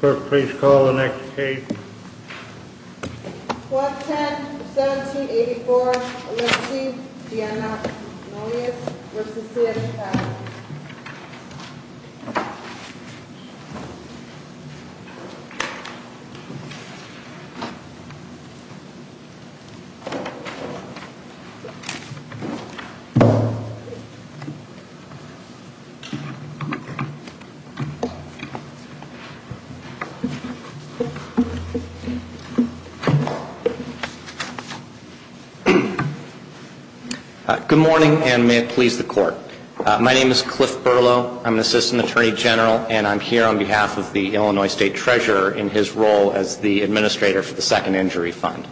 Clerk, please call the next case. Clause 10, 1784, Alexi Vianna-Noulias v. C.S. Fowler Good morning, and may it please the Court. My name is Cliff Berlow. I'm an Assistant Attorney General, and I'm here on behalf of the Illinois State Treasurer in his role as the Administrator for the Second Injury Fund.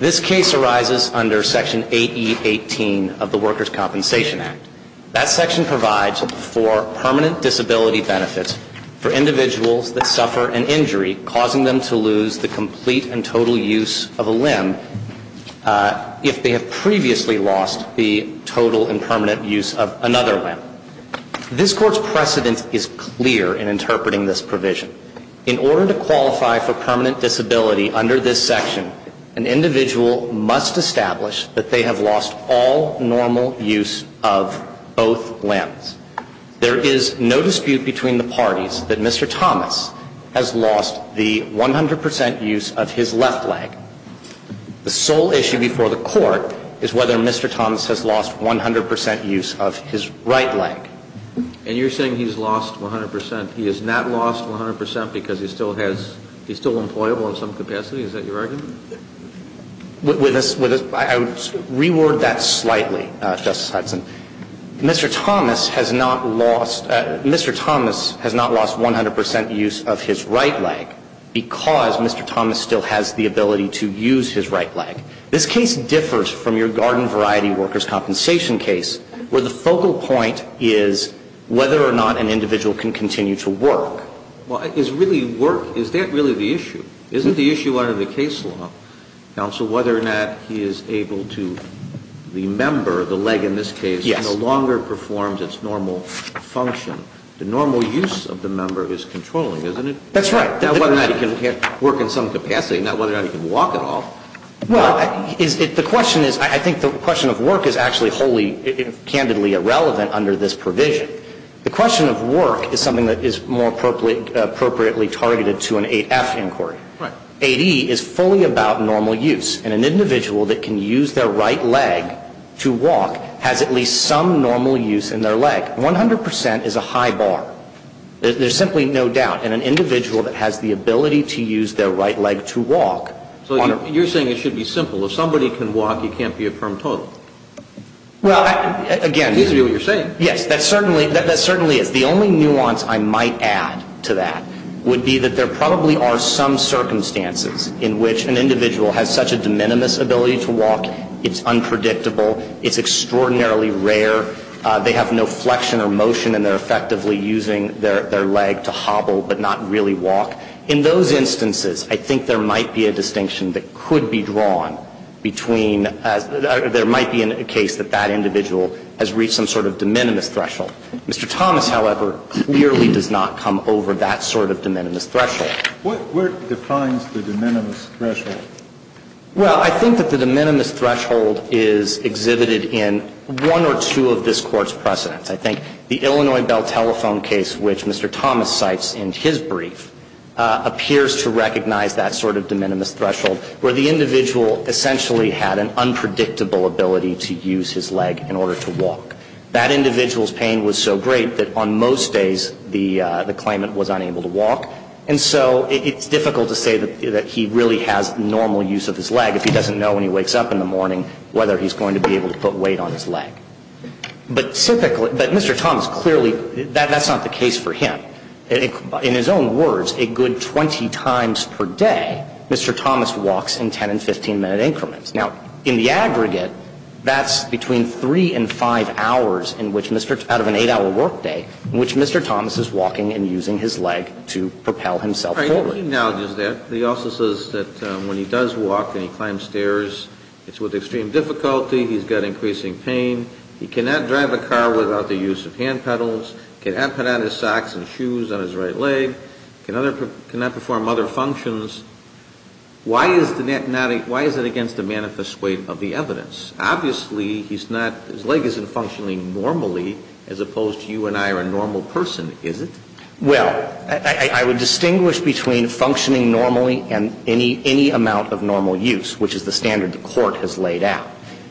This case arises under Section 8E18 of the Workers' Compensation Act. That section provides for permanent disability benefits for individuals that suffer an injury causing them to lose the complete and total use of a limb if they have previously lost the total and permanent use of another limb. This Court's precedent is clear in interpreting this provision. In order to qualify for permanent disability under this section, an individual must establish that they have lost all normal use of both limbs. There is no dispute between the parties that Mr. Thomas has lost the 100 percent use of his left leg. The sole issue before the Court is whether Mr. Thomas has lost 100 percent use of his right leg. And you're saying he's lost 100 percent. He has not lost 100 percent because he still has – he's still employable in some capacity? Is that your argument? With us – I would reword that slightly, Justice Hudson. Mr. Thomas has not lost – Mr. Thomas has not lost 100 percent use of his right leg because Mr. Thomas still has the ability to use his right leg. This case differs from your garden variety workers' compensation case where the focal point is whether or not an individual can continue to work. Well, is really work – is that really the issue? Is it the issue under the case law, counsel, whether or not he is able to – the member, the leg in this case, no longer performs its normal function? The normal use of the member is controlling, isn't it? That's right. Not whether or not he can work in some capacity, not whether or not he can walk at all. Well, the question is – I think the question of work is actually wholly, candidly irrelevant under this provision. The question of work is something that is more appropriately targeted to an 8F inquiry. Right. 8E is fully about normal use. And an individual that can use their right leg to walk has at least some normal use in their leg. 100 percent is a high bar. There's simply no doubt. And an individual that has the ability to use their right leg to walk – So you're saying it should be simple. If somebody can walk, you can't be a firm total. Well, again – It seems to be what you're saying. Yes, that certainly – that certainly is. The only nuance I might add to that would be that there probably are some circumstances in which an individual has such a de minimis ability to walk. It's unpredictable. It's extraordinarily rare. I think there might be a distinction that could be drawn between – there might be a case that that individual has reached some sort of de minimis threshold. Mr. Thomas, however, clearly does not come over that sort of de minimis threshold. What defines the de minimis threshold? Well, I think that the de minimis threshold is exhibited in one or two of these cases. I think the Illinois Bell Telephone case, which Mr. Thomas cites in his brief, appears to recognize that sort of de minimis threshold, where the individual essentially had an unpredictable ability to use his leg in order to walk. That individual's pain was so great that on most days the claimant was unable to walk. And so it's difficult to say that he really has normal use of his leg if he doesn't know when he wakes up in the morning whether he's going to be able to put weight on his leg. But typically – but Mr. Thomas clearly – that's not the case for him. In his own words, a good 20 times per day, Mr. Thomas walks in 10 and 15-minute increments. Now, in the aggregate, that's between 3 and 5 hours in which Mr. – out of an 8-hour workday, in which Mr. Thomas is walking and using his leg to propel himself forward. So he acknowledges that. He also says that when he does walk and he climbs stairs, it's with extreme difficulty. He's got increasing pain. He cannot drive a car without the use of hand pedals. He cannot put on his socks and shoes on his right leg. He cannot perform other functions. Why is it against the manifest weight of the evidence? Obviously, he's not – his leg isn't functioning normally as opposed to you and I are a normal person, is it? Well, I would distinguish between functioning normally and any amount of normal use, which is the standard the Court has laid out.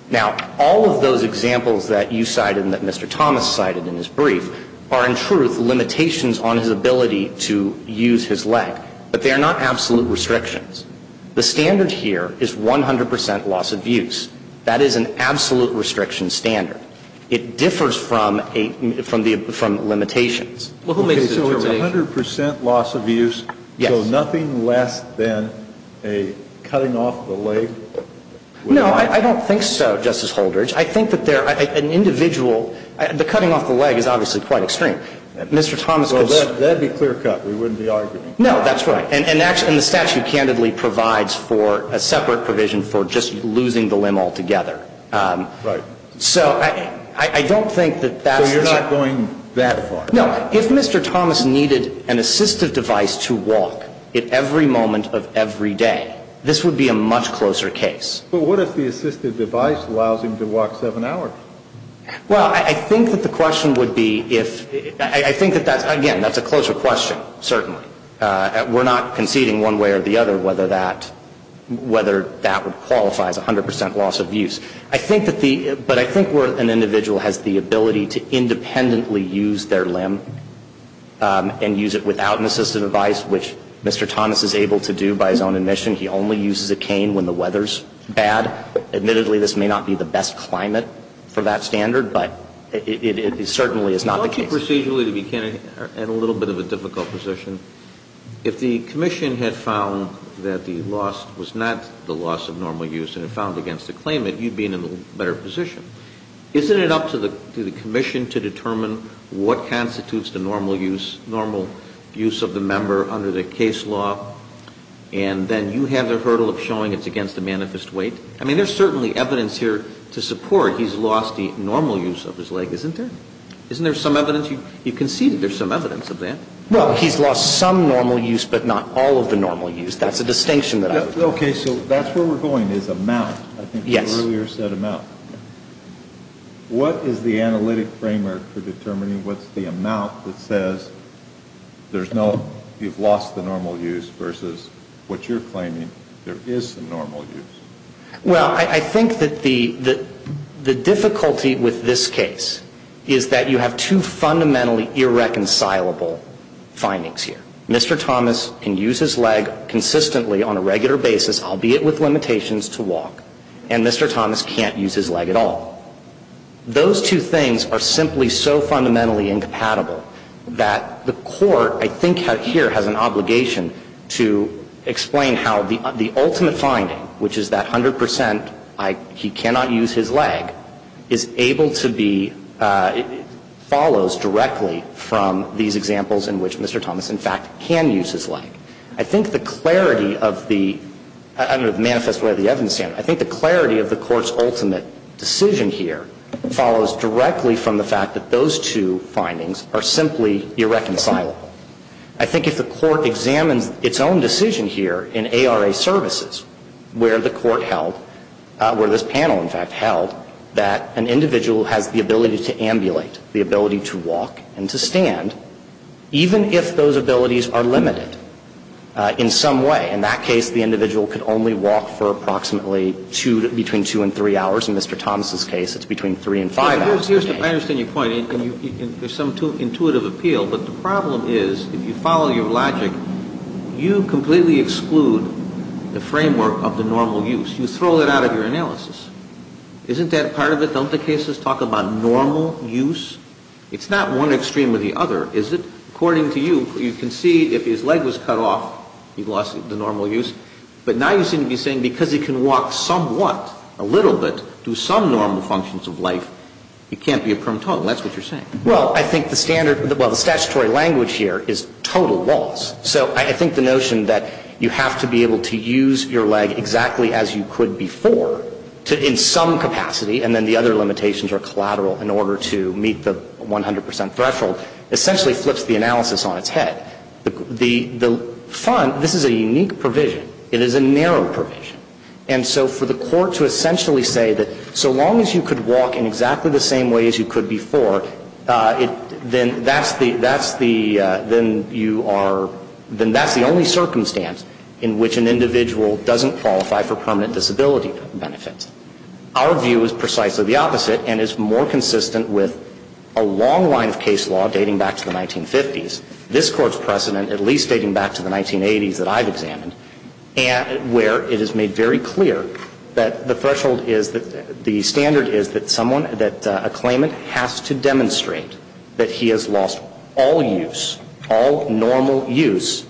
Now, all of those examples that you cited and that Mr. Thomas cited in his brief are, in truth, limitations on his ability to use his leg. But they are not absolute restrictions. The standard here is 100 percent loss of use. That is an absolute restriction standard. It differs from a – from limitations. Well, who makes the determination? Okay. So 100 percent loss of use. Yes. So nothing less than a cutting off the leg. No, I don't think so, Justice Holdrege. I think that there – an individual – the cutting off the leg is obviously quite extreme. Mr. Thomas could say – Well, that would be clear cut. We wouldn't be arguing. No, that's right. And the statute candidly provides for a separate provision for just losing the limb altogether. Right. So I don't think that that's – So you're not going that far. No. If Mr. Thomas needed an assistive device to walk at every moment of every day, this would be a much closer case. But what if the assistive device allows him to walk 7 hours? Well, I think that the question would be if – I think that that's – again, that's a closer question, certainly. We're not conceding one way or the other whether that – whether that qualifies 100 percent loss of use. I think that the – but I think where an individual has the ability to independently use their limb and use it without an assistive device, which Mr. Thomas is able to do by his own admission. He only uses a cane when the weather's bad. Admittedly, this may not be the best climate for that standard, but it certainly is not the case. Well, procedurally, to be candid, you're in a little bit of a difficult position. If the commission had found that the loss was not the loss of normal use and had found against the claimant, you'd be in a better position. Isn't it up to the commission to determine what constitutes the normal use – normal use of the member under the case law? And then you have the hurdle of showing it's against the manifest weight? I mean, there's certainly evidence here to support he's lost the normal use of his leg, isn't there? Isn't there some evidence – you conceded there's some evidence of that? Well, he's lost some normal use, but not all of the normal use. That's a distinction that I would make. Okay, so that's where we're going, is amount. Yes. I think you earlier said amount. What is the analytic framework for determining what's the amount that says there's no – you've lost the normal use versus what you're claiming there is some normal use? Well, I think that the difficulty with this case is that you have two fundamentally irreconcilable findings here. Mr. Thomas can use his leg consistently on a regular basis, albeit with limitations, to walk. And Mr. Thomas can't use his leg at all. Those two things are simply so fundamentally incompatible that the Court, I think, here has an obligation to explain how the ultimate finding, which is that 100 percent he cannot use his leg, is able to be – follows directly from these examples in which Mr. Thomas, in fact, can use his leg. I think the clarity of the – under the manifest way of the evidence standard, I think the clarity of the Court's ultimate decision here follows directly from the fact that those two findings are simply irreconcilable. I think if the Court examines its own decision here in ARA services where the Court held – where this panel, in fact, held that an individual has the ability to ambulate, the ability to walk and to stand, even if those abilities are limited in some way, in that case the individual could only walk for approximately two – between two and three hours. In Mr. Thomas' case, it's between three and five hours a day. I understand your point. There's some intuitive appeal. You throw that out of your analysis. Isn't that part of it? Don't the cases talk about normal use? It's not one extreme or the other, is it? According to you, you can see if his leg was cut off, he lost the normal use. But now you seem to be saying because he can walk somewhat, a little bit, do some normal functions of life, he can't be a prim total. That's what you're saying. Well, I think the standard – well, the statutory language here is total loss. So I think the notion that you have to be able to use your leg exactly as you could before in some capacity and then the other limitations are collateral in order to meet the 100 percent threshold essentially flips the analysis on its head. The – this is a unique provision. It is a narrow provision. And so for the court to essentially say that so long as you could walk in exactly the only circumstance in which an individual doesn't qualify for permanent disability benefits. Our view is precisely the opposite and is more consistent with a long line of case law dating back to the 1950s, this Court's precedent at least dating back to the 1980s that I've examined, where it is made very clear that the threshold is – the standard is that someone – that a claimant has to demonstrate that he has lost all use, all normal use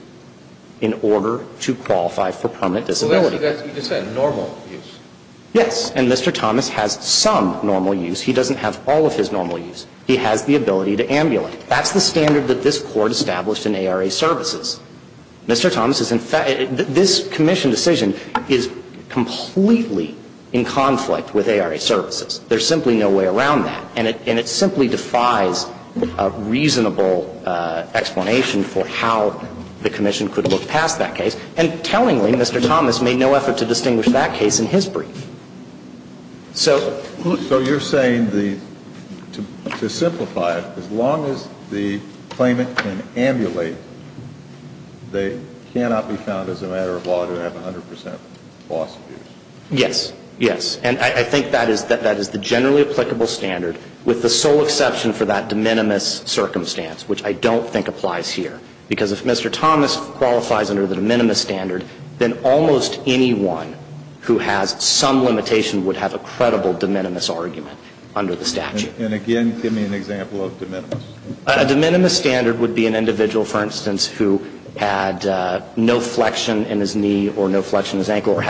in order to qualify for permanent disability. Well, that's – you just said normal use. Yes. And Mr. Thomas has some normal use. He doesn't have all of his normal use. He has the ability to ambulate. That's the standard that this Court established in ARA services. Mr. Thomas is – this Commission decision is completely in conflict with ARA services. There's simply no way around that. And it – and it simply defies a reasonable explanation for how the Commission could look past that case. And tellingly, Mr. Thomas made no effort to distinguish that case in his brief. So – So you're saying the – to simplify it, as long as the claimant can ambulate, they cannot be found as a matter of law to have 100 percent loss of use. Yes. Yes. And I think that is – that is the generally applicable standard, with the sole exception for that de minimis circumstance, which I don't think applies here. Because if Mr. Thomas qualifies under the de minimis standard, then almost anyone who has some limitation would have a credible de minimis argument under the statute. And again, give me an example of de minimis. A de minimis standard would be an individual, for instance, who had no flexion in his leg, because he was a walker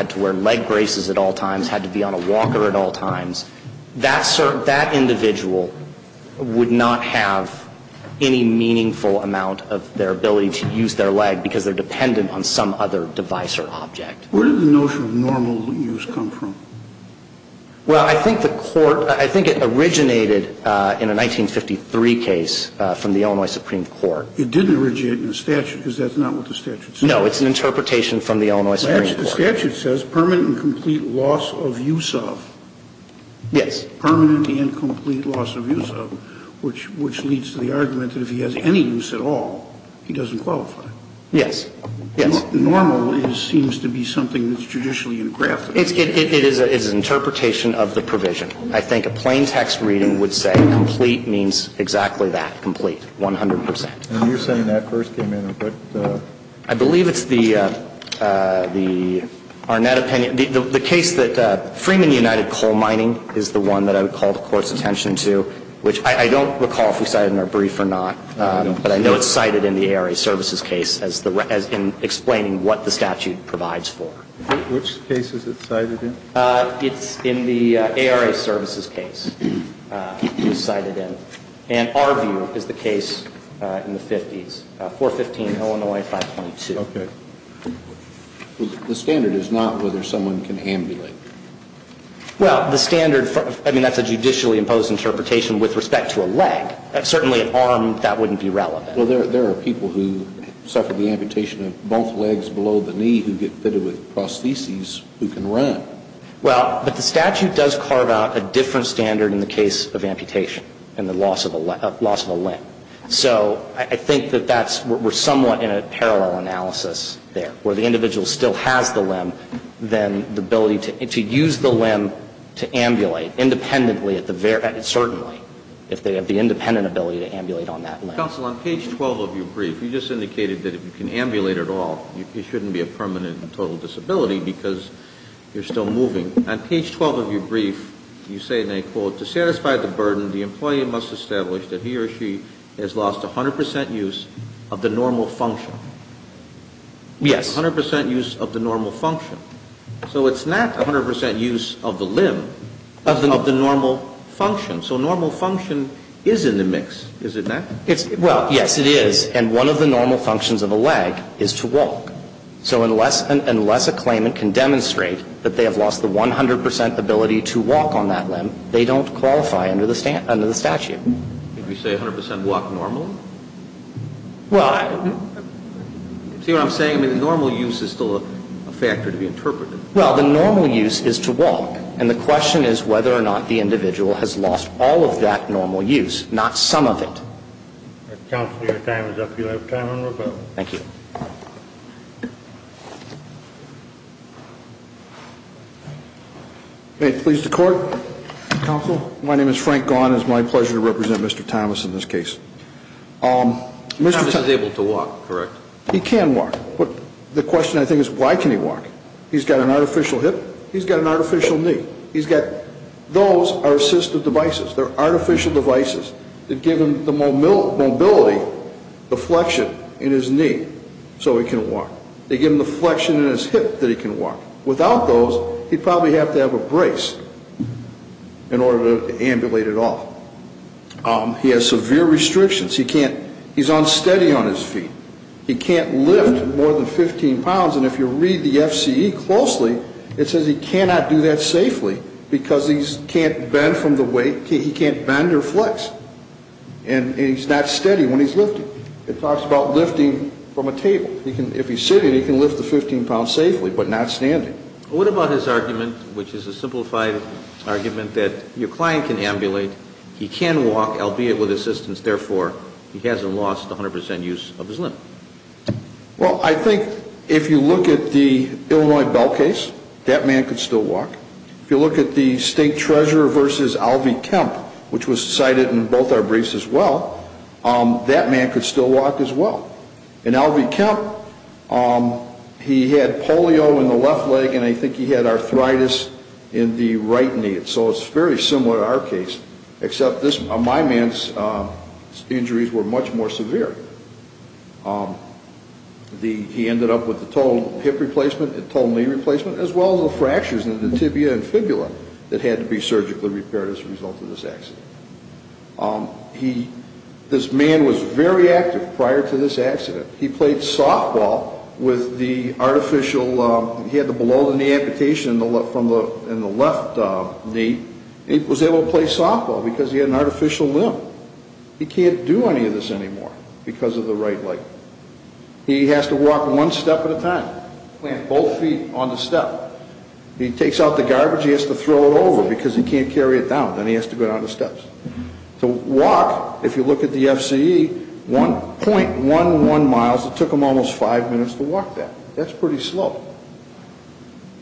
at all times. That individual would not have any meaningful amount of their ability to use their leg because they're dependent on some other device or object. Where did the notion of normal use come from? Well, I think the court – I think it originated in a 1953 case from the Illinois Supreme Court. It didn't originate in the statute, because that's not what the statute says. No. It's an interpretation from the Illinois Supreme Court. The statute says permanent and complete loss of use of. Yes. Permanent and complete loss of use of, which leads to the argument that if he has any use at all, he doesn't qualify. Yes. Yes. Normal seems to be something that's judicially unacceptable. It is an interpretation of the provision. I think a plain text reading would say complete means exactly that, complete, 100 percent. And you're saying that first came in. I believe it's the Arnett opinion. The case that Freeman United Coal Mining is the one that I would call the Court's attention to, which I don't recall if we cited in our brief or not, but I know it's cited in the ARA services case as the – as in explaining what the statute provides for. Which case is it cited in? It's in the ARA services case it was cited in. And our view is the case in the 50s, 415 Illinois 5.2. Okay. The standard is not whether someone can ambulate. Well, the standard – I mean, that's a judicially imposed interpretation with respect to a leg. Certainly an arm, that wouldn't be relevant. Well, there are people who suffer the amputation of both legs below the knee who get fitted with prostheses who can run. Well, but the statute does carve out a different standard in the case of amputation and the loss of a limb. So I think that that's – we're somewhat in a parallel analysis there, where the individual still has the limb, then the ability to use the limb to ambulate independently at the – certainly, if they have the independent ability to ambulate on that limb. Counsel, on page 12 of your brief, you just indicated that if you can ambulate at all, you shouldn't be a permanent and total disability because you're still moving. On page 12 of your brief, you say, and I quote, To satisfy the burden, the employee must establish that he or she has lost 100 percent use of the normal function. Yes. 100 percent use of the normal function. So it's not 100 percent use of the limb of the normal function. So normal function is in the mix, is it not? Well, yes, it is. And one of the normal functions of a leg is to walk. So unless a claimant can demonstrate that they have lost the 100 percent ability to walk on that limb, they don't qualify under the statute. Did you say 100 percent walk normally? Well, I – See what I'm saying? I mean, the normal use is still a factor to be interpreted. Well, the normal use is to walk. And the question is whether or not the individual has lost all of that normal use, not some of it. Counsel, your time is up. You have time on rebuttal. Thank you. May it please the Court? Counsel. My name is Frank Gaughan. It's my pleasure to represent Mr. Thomas in this case. Mr. Thomas is able to walk, correct? He can walk. But the question, I think, is why can he walk? He's got an artificial hip. He's got an artificial knee. He's got – those are assistive devices. They're artificial devices that give him the mobility, the flexion in his knee so he can walk. They give him the flexion in his hip that he can walk. Without those, he'd probably have to have a brace in order to ambulate at all. He has severe restrictions. He can't – he's unsteady on his feet. He can't lift more than 15 pounds. And if you read the FCE closely, it says he cannot do that safely because he can't bend from the weight and he can't bend or flex. And he's not steady when he's lifting. It talks about lifting from a table. If he's sitting, he can lift the 15 pounds safely but not standing. What about his argument, which is a simplified argument, that your client can ambulate, he can walk, albeit with assistance, therefore he hasn't lost 100 percent use of his limb? Well, I think if you look at the Illinois bell case, that man could still walk. If you look at the state treasurer versus Alvey Kemp, which was cited in both our briefs as well, that man could still walk as well. And Alvey Kemp, he had polio in the left leg and I think he had arthritis in the right knee. So it's very similar to our case, except my man's injuries were much more severe. He ended up with a total hip replacement, a total knee replacement, as well as the fractures in the tibia and fibula that had to be surgically repaired as a result of this accident. This man was very active prior to this accident. He played softball with the artificial, he had the below-the-knee amputation in the left knee. He was able to play softball because he had an artificial limb. He can't do any of this anymore because of the right leg. He has to walk one step at a time, plant both feet on the step. He takes out the garbage, he has to throw it over because he can't carry it down. Then he has to go down the steps. To walk, if you look at the FCE, .11 miles, it took him almost five minutes to walk that. That's pretty slow.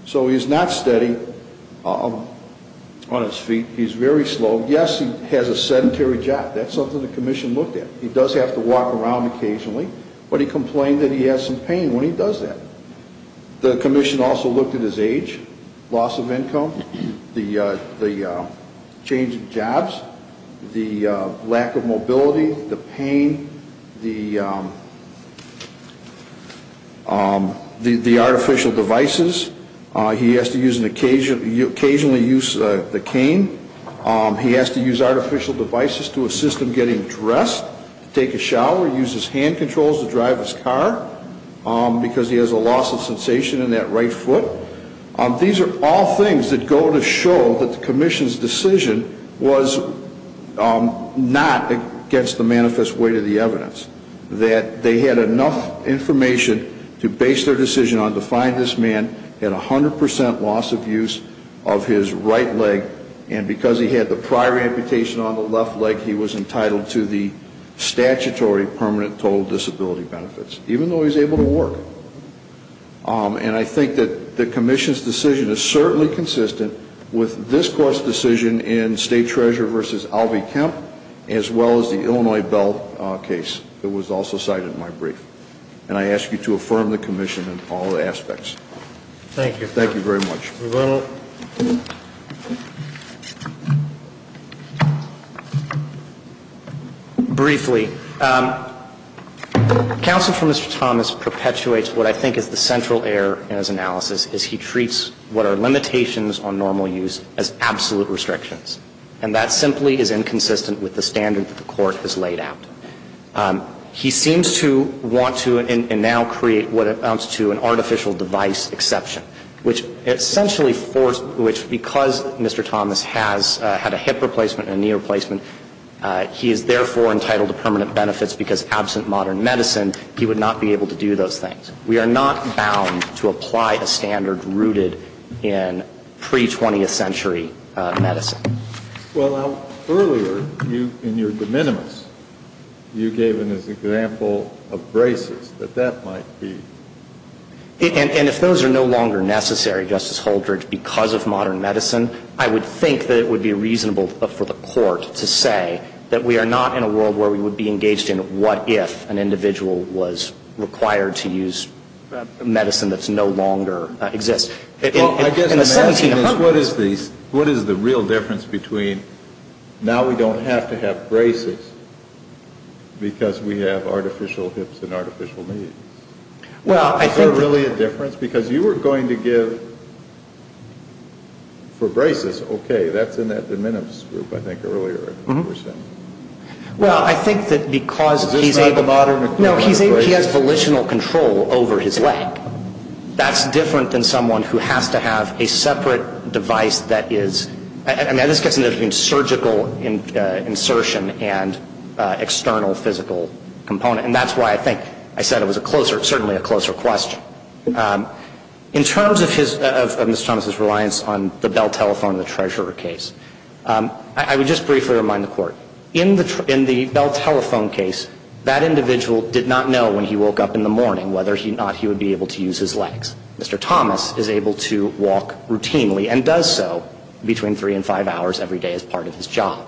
So he's not steady on his feet, he's very slow. Yes, he has a sedentary job. That's something the commission looked at. He does have to walk around occasionally, but he complained that he had some pain when he does that. The commission also looked at his age, loss of income, the change of jobs, the lack of mobility, the pain, the artificial devices. He has to occasionally use the cane. He has to use artificial devices to assist him getting dressed, take a shower, use his hand controls to drive his car, because he has a loss of sensation in that right foot. These are all things that go to show that the commission's decision was not against the manifest weight of the evidence, that they had enough information to base their decision on to find this man at 100% loss of use of his right leg, and because he had the prior amputation on the left leg, he was entitled to the statutory permanent total disability benefits, even though he was able to work. And I think that the commission's decision is certainly consistent with this court's decision in State Treasurer v. Alvey Kemp, as well as the Illinois Bell case that was also cited in my brief. And I ask you to affirm the commission in all aspects. Thank you. Thank you very much. Revenue. Briefly, counsel for Mr. Thomas perpetuates what I think is the central error in his analysis, is he treats what are limitations on normal use as absolute restrictions. And that simply is inconsistent with the standard that the court has laid out. He seems to want to and now create what amounts to an artificial device exception, which essentially forced, which because Mr. Thomas has had a hip replacement and a knee replacement, he is therefore entitled to permanent benefits because absent modern medicine, he would not be able to do those things. We are not bound to apply a standard rooted in pre-20th century medicine. Well, earlier in your de minimis, you gave an example of braces, that that might be. And if those are no longer necessary, Justice Holdred, because of modern medicine, I would think that it would be reasonable for the court to say that we are not in a world where we would be engaged in what if an individual was required to use medicine that no longer exists. Well, I guess the question is what is the real difference between now we don't have to have braces because we have artificial hips and artificial knees? Is there really a difference? Because you were going to give for braces, okay, that's in that de minimis group I think earlier. Well, I think that because he has volitional control over his leg, that's different than someone who has to have a separate device that is, and this gets into surgical insertion and external physical component, and that's why I think I said it was certainly a closer question. In terms of Mr. Thomas's reliance on the Bell Telephone and the Treasurer case, I would just briefly remind the Court, in the Bell Telephone case, that individual did not know when he woke up in the morning whether or not he would be able to use his legs. Mr. Thomas is able to walk routinely and does so between three and five hours every day as part of his job.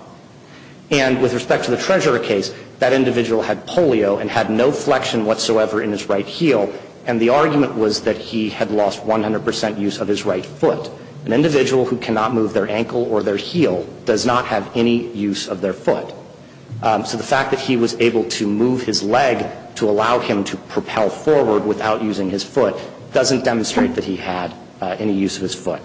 And with respect to the Treasurer case, that individual had polio and had no flexion whatsoever in his right heel, and the argument was that he had lost 100 percent use of his right foot. An individual who cannot move their ankle or their heel does not have any use of their foot. So the fact that he was able to move his leg to allow him to propel forward without using his foot doesn't demonstrate that he had any use of his foot.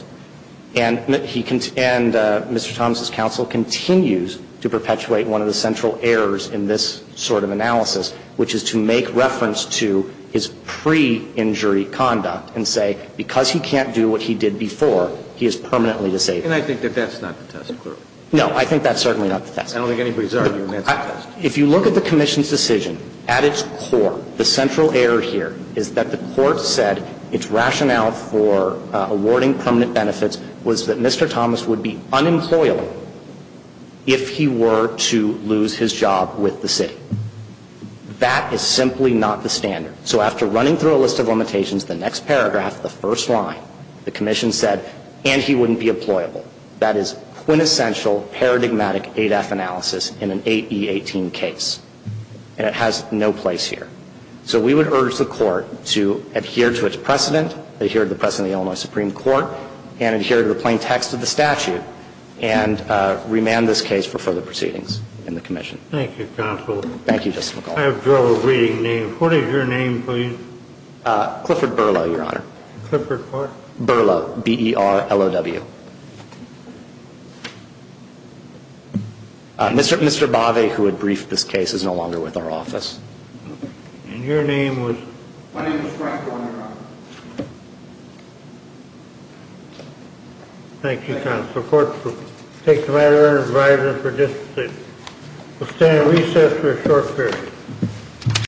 And Mr. Thomas's counsel continues to perpetuate one of the central errors in this sort of analysis, which is to make reference to his pre-injury conduct and say, because he can't do what he did before, he is permanently disabled. And I think that that's not the test, clearly. No, I think that's certainly not the test. I don't think anybody's arguing that's the test. If you look at the Commission's decision, at its core, the central error here is that the Court said its rationale for awarding permanent benefits was that Mr. Thomas would be unemployable if he were to lose his job with the city. That is simply not the standard. So after running through a list of limitations, the next paragraph, the first line, the Commission said, and he wouldn't be employable. That is quintessential paradigmatic 8F analysis in an 8E18 case. And it has no place here. So we would urge the Court to adhere to its precedent, adhere to the precedent of the Illinois Supreme Court, and adhere to the plain text of the statute, and remand this case for further proceedings in the Commission. Thank you, Counsel. Thank you, Justice McConnell. I have trouble reading names. What is your name, please? Clifford Burlow, Your Honor. Clifford what? Burlow, B-E-R-L-O-W. Mr. Bave, who had briefed this case, is no longer with our office. And your name was? My name is Frank Warner, Your Honor. Thank you, Counsel. The Court will take the matter under review for this case. We'll stand at recess for a short period.